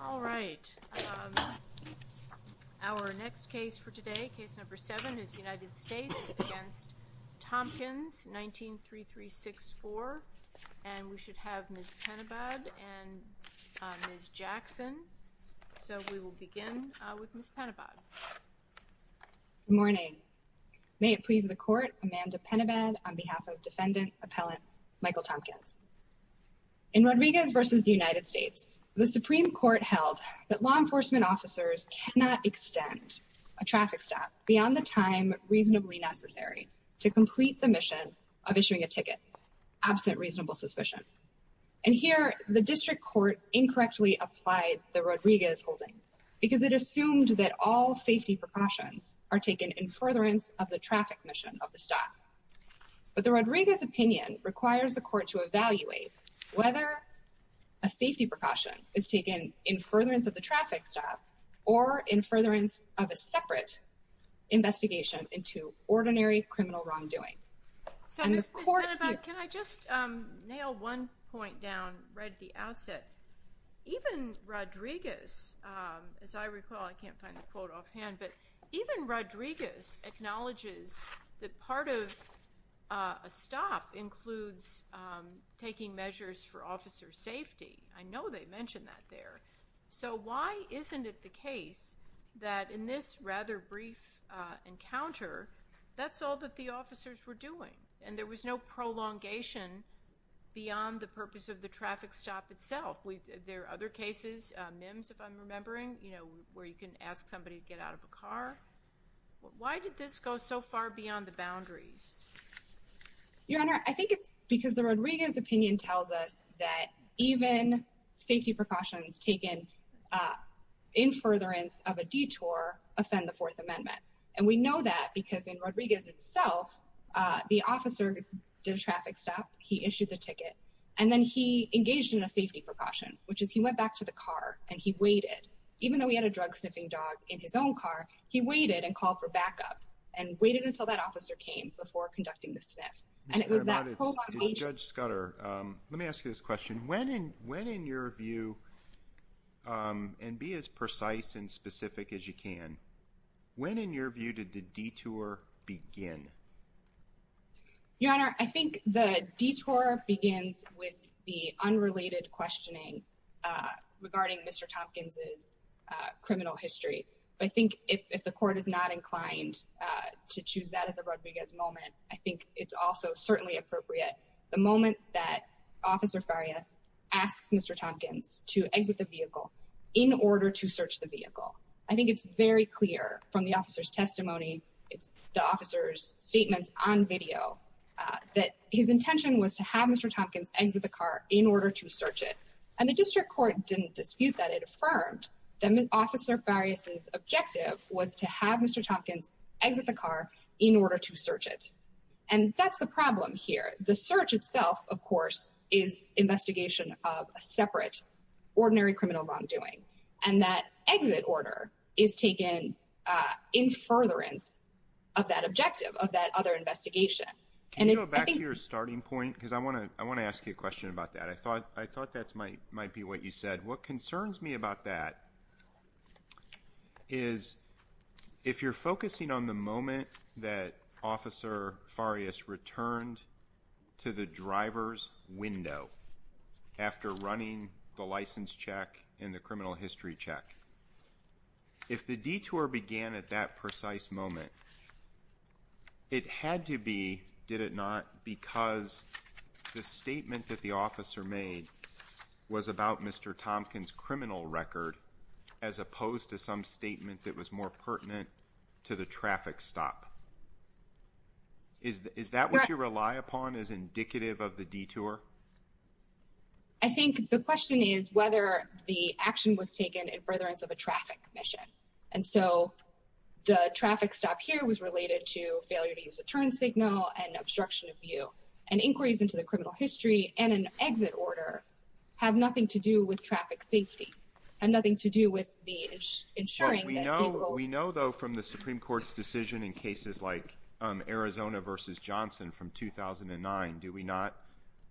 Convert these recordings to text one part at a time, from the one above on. All right, our next case for today, case number seven, is United States v. Thompkins, 19-3364, and we should have Ms. Penebod and Ms. Jackson. So we will begin with Ms. Penebod. Good morning. May it please the Court, Amanda Penebod on behalf of Defendant Appellant Michael Thompkins. In Rodriguez v. The United States, the Supreme Court held that law enforcement officers cannot extend a traffic stop beyond the time reasonably necessary to complete the mission of issuing a ticket, absent reasonable suspicion. And here, the District Court incorrectly applied the Rodriguez holding, because it assumed that all safety precautions are taken in furtherance of the traffic mission of the stop. But the Rodriguez opinion requires the Court to evaluate whether a safety precaution is taken in furtherance of the traffic stop or in furtherance of a separate investigation into ordinary criminal wrongdoing. So Ms. Penebod, can I just nail one point down right at the outset? Even Rodriguez, as I recall, I can't find the quote offhand, but even Rodriguez acknowledges that part of a stop includes taking measures for officer safety. I know they mention that there. So why isn't it the case that in this rather brief encounter, that's all that the officers were doing, and there was no prolongation beyond the purpose of the traffic stop itself? There are other cases, MIMS if I'm remembering, you know, where you can ask somebody to get out of a car. Why did this go so far beyond the boundaries? Your Honor, I think it's because the Rodriguez opinion tells us that even safety precautions taken in furtherance of a detour offend the Fourth Amendment. And we know that because in Rodriguez itself, the officer did a traffic stop, he issued the ticket, and then he engaged in a safety precaution, which is he went back to the car and he waited. Even though he had a drug sniffing dog in his own car, he waited and called for backup and waited until that officer came before conducting the sniff. And it was that whole long wait. Judge Scudder, let me ask you this question. When in your view, and be as precise and specific as you can, when in your view did the detour begin? Your Honor, I think the detour begins with the unrelated questioning regarding Mr. Tompkins's criminal history. But I think if the court is not inclined to choose that as the Rodriguez moment, I think it's also certainly appropriate. The moment that Officer Farias asks Mr. Tompkins to exit the vehicle in order to search the vehicle, I think it's very clear from the officer's testimony, it's the officer's statements on video, that his intention was to have Mr. Tompkins exit the car in order to search it. And the district court didn't dispute that. It affirmed that Officer Farias's objective was to have Mr. Tompkins exit the car in order to search it. And that's the problem here. The search itself, of course, is investigation of a separate ordinary criminal wrongdoing. And that exit order is taken in furtherance of that objective of that other investigation. Can you go back to your starting point? Because I want to ask you a question about that. I mean, what concerns me about that is, if you're focusing on the moment that Officer Farias returned to the driver's window after running the license check and the criminal history check, if the detour began at that precise moment, it had to be, did it not, because the statement that the officer made was about Mr. Tompkins' criminal record as opposed to some statement that was more pertinent to the traffic stop? Is that what you rely upon as indicative of the detour? I think the question is whether the action was taken in furtherance of a traffic mission. And so, the traffic stop here was related to failure to use a turn signal and obstruction of view. And inquiries into the criminal history and an exit order have nothing to do with traffic safety, have nothing to do with the ensuring that people... We know, though, from the Supreme Court's decision in cases like Arizona v. Johnson from 2009, do we not,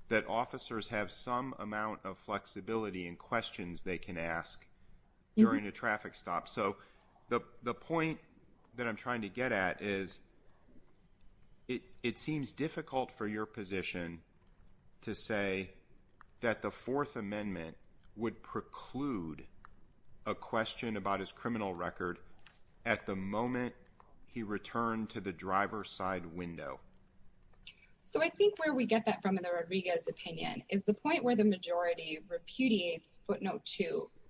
that officers have some amount of flexibility in questions they can ask during a traffic stop? So, the point that I'm trying to get at is, it seems difficult for your position to say that the Fourth Amendment would preclude a question about his criminal record at the moment he returned to the driver's side window. So I think where we get that from, in the Rodriguez opinion, is the point where the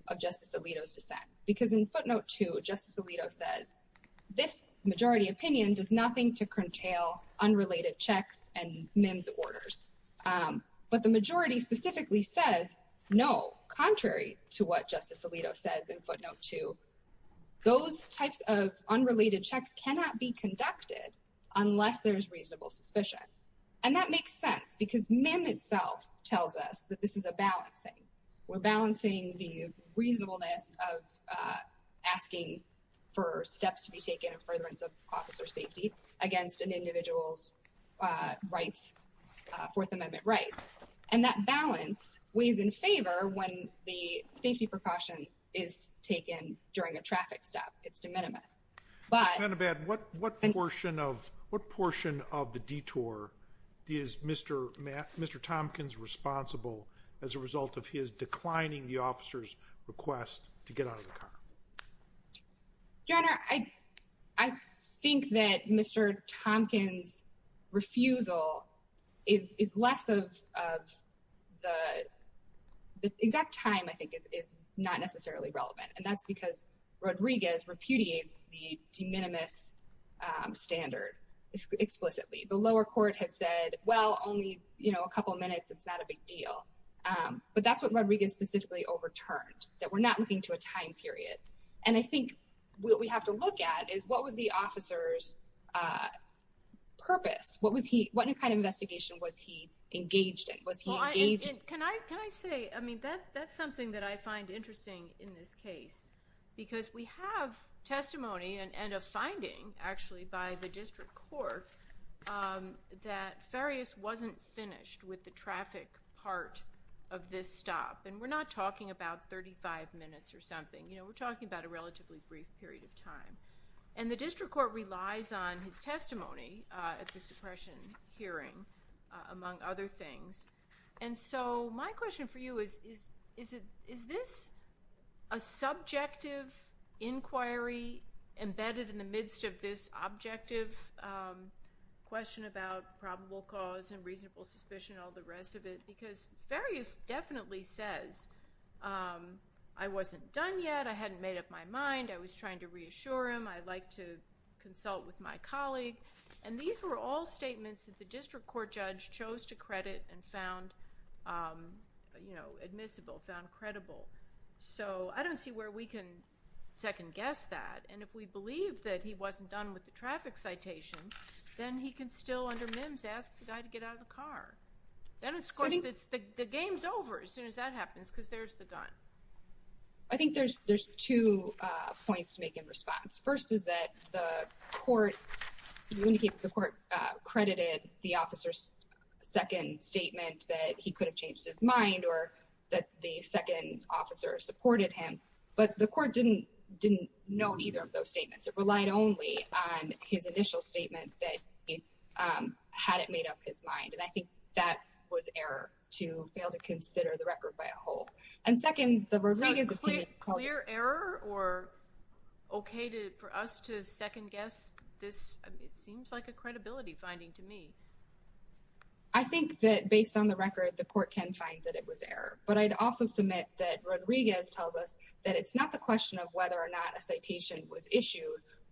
of Justice Alito's dissent. Because in footnote two, Justice Alito says, this majority opinion does nothing to curtail unrelated checks and MIMS orders. But the majority specifically says no, contrary to what Justice Alito says in footnote two. Those types of unrelated checks cannot be conducted unless there's reasonable suspicion. And that makes sense because MIMS itself tells us that this is a balancing. We're balancing the reasonableness of asking for steps to be taken in furtherance of officer safety against an individual's rights, Fourth Amendment rights. And that balance weighs in favor when the safety precaution is taken during a traffic stop. It's de minimis. Just to add to that, what portion of the detour is Mr. Tompkins responsible as a result of his declining the officer's request to get out of the car? Your Honor, I think that Mr. Tompkins' refusal is less of the exact time, I think, is not necessarily relevant. And that's because Rodriguez repudiates the de minimis standard explicitly. The lower court had said, well, only a couple minutes, it's not a big deal. But that's what Rodriguez specifically overturned, that we're not looking to a time period. And I think what we have to look at is, what was the officer's purpose? What kind of investigation was he engaged in? Was he engaged? Can I say, that's something that I find interesting in this case. Because we have testimony and a finding, actually, by the district court that Farias wasn't finished with the traffic part of this stop. And we're not talking about 35 minutes or something. We're talking about a relatively brief period of time. And the district court relies on his testimony at the suppression hearing, among other things. And so my question for you is, is this a subjective inquiry embedded in the midst of this objective question about probable cause and reasonable suspicion and all the rest of it? Because Farias definitely says, I wasn't done yet. I hadn't made up my mind. I was trying to reassure him. I'd like to consult with my statements that the district court judge chose to credit and found admissible, found credible. So I don't see where we can second guess that. And if we believe that he wasn't done with the traffic citation, then he can still, under MIMS, ask the guy to get out of the car. Then it's the game's over as soon as that happens, because there's the gun. I think there's two points to make in response. First is that the court, you indicate that the court credited the officer's second statement that he could have changed his mind or that the second officer supported him. But the court didn't know either of those statements. It relied only on his initial statement that he hadn't made up his mind. And I think that was error to fail to consider the record by a whole. And second, the Rodriguez opinion Is it clear error or okay for us to second guess this? It seems like a credibility finding to me. I think that based on the record, the court can find that it was error. But I'd also submit that Rodriguez tells us that it's not the question of whether or not a citation was issued,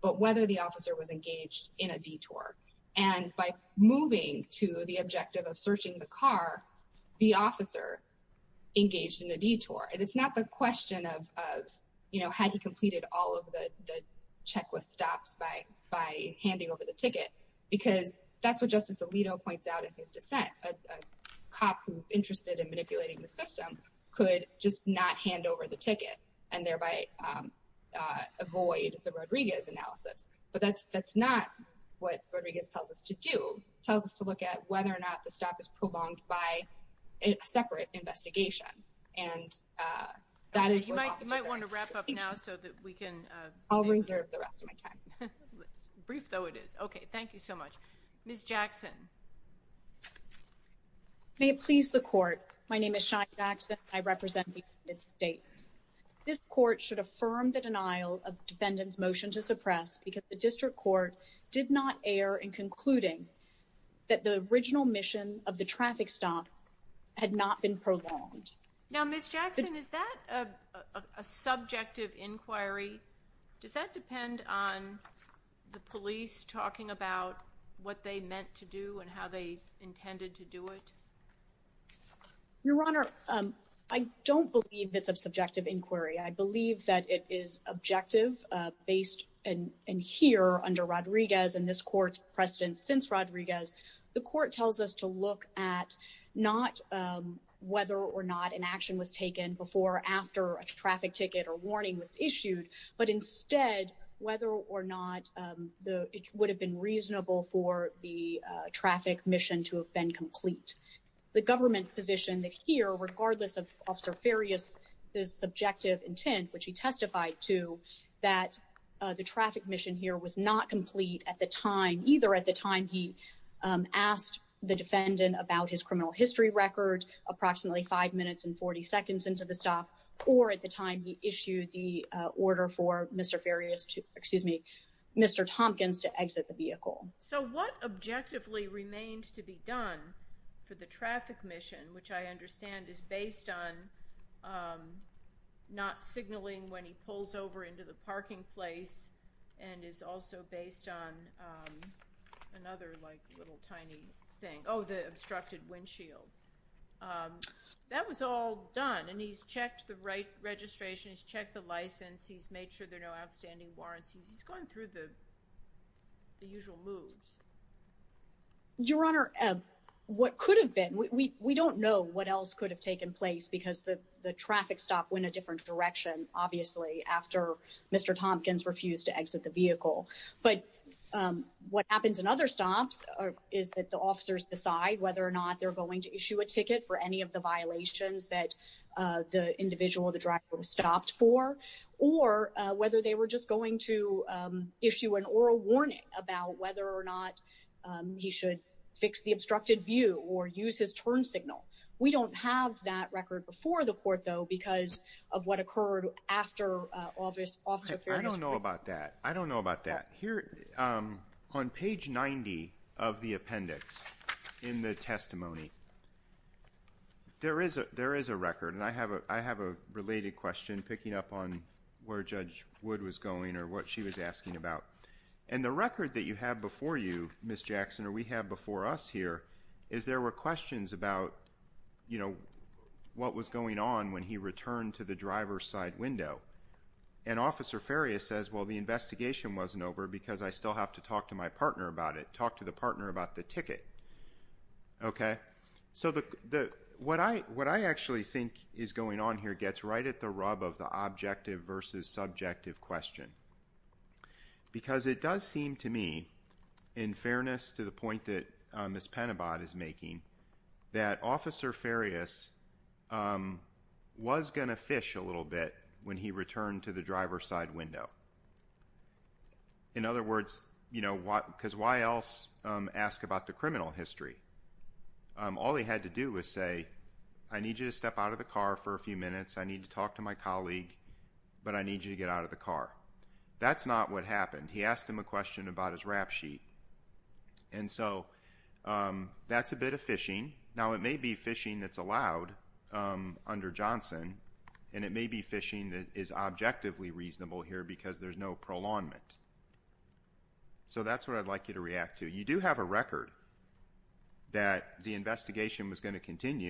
but whether the officer was engaged in a detour. And by moving to the objective of searching the car, the officer engaged in a detour. And it's not the question of, you know, had he completed all of the checklist stops by handing over the ticket, because that's what Justice Alito points out in his dissent. A cop who's interested in manipulating the system could just not hand over the ticket and thereby avoid the Rodriguez analysis. But that's not what Rodriguez tells us to do. Tells us to look at whether or not the stop is prolonged by a separate investigation. And that is, you might want to wrap up now so that we can, I'll reserve the rest of my time. Brief though it is. Okay. Thank you so much. Ms. Jackson. May it please the court. My name is Shawn Jackson. I represent the United States. This court should affirm the denial of defendants motion to suppress because the district court did not air in concluding that the original mission of the traffic stop had not been prolonged. Now, Ms. Jackson, is that a subjective inquiry? Does that depend on the police talking about what they meant to do and how they intended to do it? Your Honor, I don't believe it's a subjective inquiry. I believe that it is objective based and here under Rodriguez and this court's precedent since Rodriguez, the court tells us to look at not whether or not an action was taken before or after a traffic ticket or warning was issued. But instead, whether or not it would have been reasonable for the traffic mission to have been complete. The government's position that here, regardless of Officer Farias, his subjective intent, which he testified to, that the traffic mission here was not complete at the time, either at the time he asked the defendant about his criminal history record, approximately five minutes and 40 seconds into the stop, or at the time he issued the order for Mr. Farias to, excuse me, Mr. Tompkins to exit the vehicle. So what objectively remains to be done for the traffic mission, which I understand is based on not signaling when he pulls over into the parking place and is also based on another like little tiny thing. Oh, the obstructed windshield. That was all done and he's checked the right registration, he's checked the license, he's made sure there are no outstanding warrants, he's gone through the usual moves. Your Honor, what could have been, we don't know what else could have taken place because the traffic stop went a different direction, obviously, after Mr. Tompkins refused to exit the vehicle. But what happens in other stops is that the officers decide whether or not they're going to issue a ticket for any of the violations that the individual, the driver, stopped for, or whether they were just going to issue an oral warning about whether or not he should fix the obstructed view or use his turn signal. We don't have that record before the court, though, because of what occurred after Officer Farias. I don't know about that. I don't know about that. Here, on page 90 of the appendix in the testimony, there is a record, and I have a related question picking up on where Judge Wood was going or what she was asking about. And the record that you have before you, Ms. Jackson, or we have before us here, is there were questions about what was going on when he returned to the driver's side window. And Officer Farias says, well, the investigation wasn't over because I still have to talk to my partner about it, talk to the partner about the ticket. Okay? So what I actually think is going on here gets right at the rub of the objective versus subjective question. Because it does seem to me, in fairness to the point that Ms. Penobot is making, that Officer Farias was going to fish a little bit when he returned to the driver's side window. In other words, you know, because why else ask about the criminal history? All he had to do was say, I need you to step out of the car for a few minutes. I need to talk to my colleague, but I need you to get out of the car. That's not what happened. He asked him a question about his rap sheet. And so that's a bit of fishing. Now, it may be fishing that's allowed under Johnson, and it may be fishing that is objectively reasonable here because there's no prolongment. So that's what I'd like you to react to. You do have a record that the investigation was going to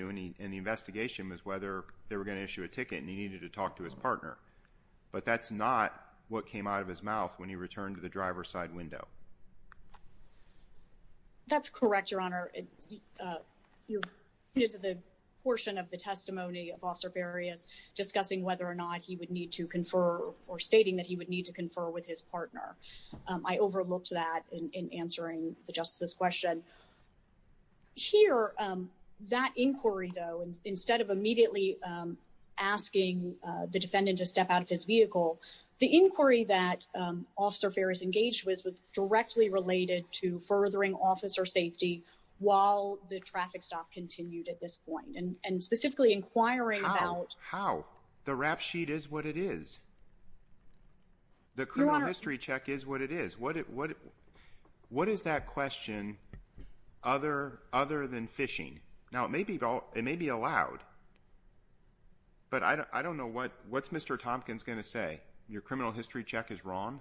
issue a ticket, and he needed to talk to his partner. But that's not what came out of his mouth when he returned to the driver's side window. That's correct, Your Honor. You're due to the portion of the testimony of Officer Farias discussing whether or not he would need to confer or stating that he would need to confer with his partner. I overlooked that in answering the asking the defendant to step out of his vehicle. The inquiry that Officer Farias engaged with was directly related to furthering officer safety while the traffic stop continued at this point and specifically inquiring about... How? The rap sheet is what it is. The criminal history check is what it is. What is that question other than fishing? Now, it may be allowed, but I don't know. What's Mr. Tompkins going to say? Your criminal history check is wrong?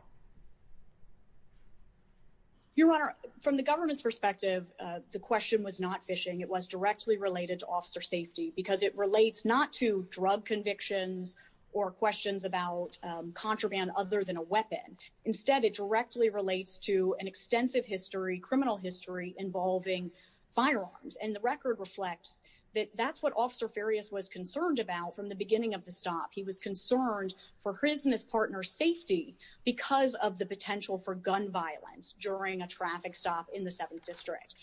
Your Honor, from the government's perspective, the question was not fishing. It was directly related to officer safety because it relates not to drug convictions or questions about contraband other than a weapon. Instead, it directly relates to an extensive history, criminal history, involving firearms. The record reflects that that's what Officer Farias was concerned about from the beginning of the stop. He was concerned for his and his partner's safety because of the potential for gun violence during a traffic stop in the 7th District.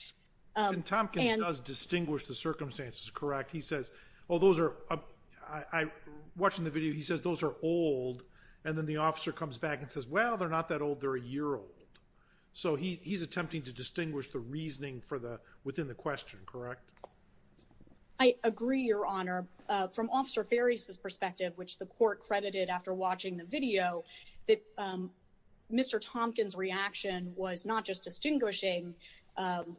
Tompkins does distinguish the circumstances, correct? He says, oh, those are... Watching the video, he says those are old. Then the officer comes back and says, well, they're not that old. They're a year old. So he's attempting to distinguish the reasoning within the question, correct? I agree, Your Honor. From Officer Farias's perspective, which the court credited after watching the video, that Mr. Tompkins' reaction was not just distinguishing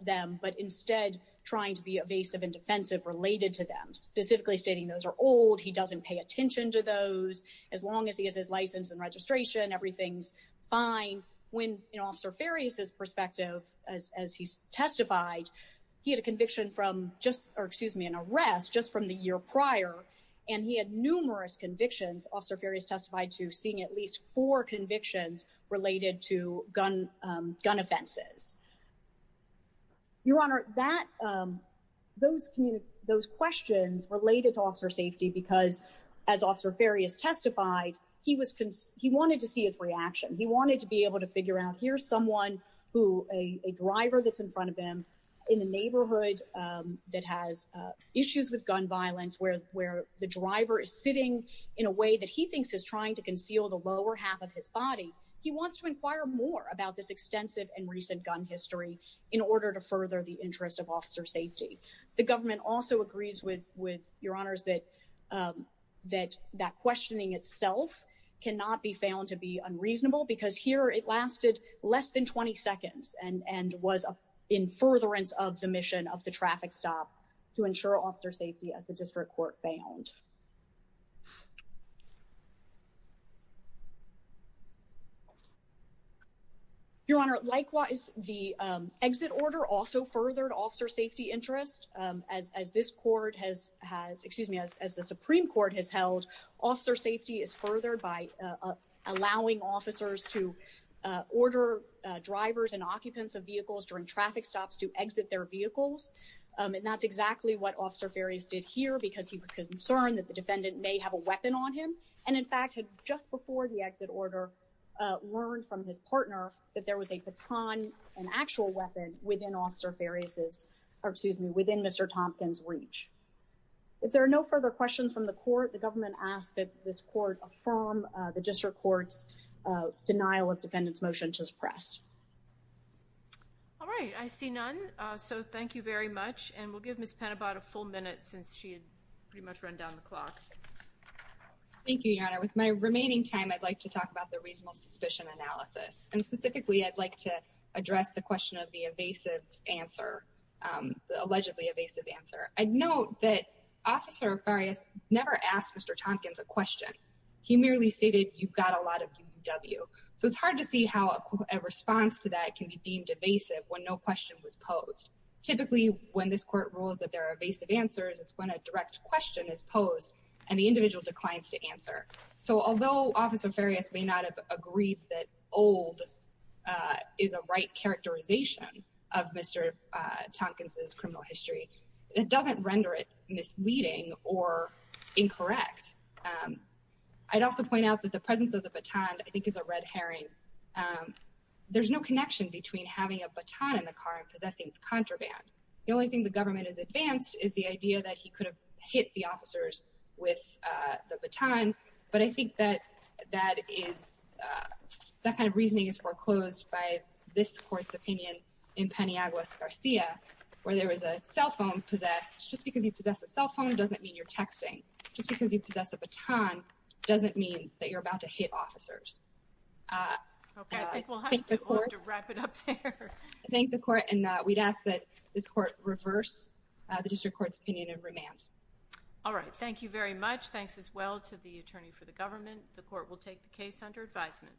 them, but instead trying to be evasive and defensive related to them, specifically stating those are old, he doesn't pay attention to those. As long as he has his license and fine, when in Officer Farias's perspective, as he testified, he had a conviction from just, or excuse me, an arrest just from the year prior, and he had numerous convictions, Officer Farias testified to seeing at least four convictions related to gun offenses. Your Honor, those questions related to officer safety because as Officer Farias testified, he wanted to see his reaction. He wanted to be able to figure out here's someone who, a driver that's in front of him in the neighborhood that has issues with gun violence, where the driver is sitting in a way that he thinks is trying to conceal the lower half of his body. He wants to inquire more about this extensive and recent gun history in order to further the interest of cannot be found to be unreasonable because here it lasted less than 20 seconds and was in furtherance of the mission of the traffic stop to ensure officer safety as the district court found. Your Honor, likewise, the exit order also furthered officer safety interest as this court has, has, excuse me, as the Supreme Court has held, officer safety is furthered by allowing officers to order drivers and occupants of vehicles during traffic stops to exit their vehicles, and that's exactly what Officer Farias did here because he was concerned that the defendant may have a weapon on him, and in fact had just before the exit order learned from his partner that there was a baton, an actual weapon within Officer Farias's, or excuse me, within Mr. Thompkins' reach. If there are no further questions from the court, the government asks that this court affirm the district court's denial of defendant's motion to suppress. All right, I see none, so thank you very much, and we'll give Ms. Penobot a full minute since she had pretty much run down the clock. Thank you, Your Honor. With my remaining time, I'd like to talk about the reasonable suspicion analysis, and specifically I'd like to address the question of the evasive answer, the allegedly evasive answer. I'd note that Officer Farias never asked Mr. Thompkins a question. He merely stated, you've got a lot of UW, so it's hard to see how a response to that can be deemed evasive when no question was posed. Typically when this court rules that there are evasive answers, it's when a direct question is posed and the individual declines to answer. So although Officer Farias may not have agreed that old is a right characterization of Mr. Thompkins' criminal history, it doesn't render it misleading or incorrect. I'd also point out that the presence of the baton, I think, is a red herring. There's no connection between having a baton in the car and possessing contraband. The only thing the government has advanced is the idea that he could hit the officers with the baton, but I think that that kind of reasoning is foreclosed by this court's opinion in Paniagua-Garcia, where there was a cell phone possessed. Just because you possess a cell phone doesn't mean you're texting. Just because you possess a baton doesn't mean that you're about to hit officers. I thank the court, and we'd ask that this court reverse the district court's opinion and remand. All right, thank you very much. Thanks as well to the attorney for the government. The court will take the case under advisement.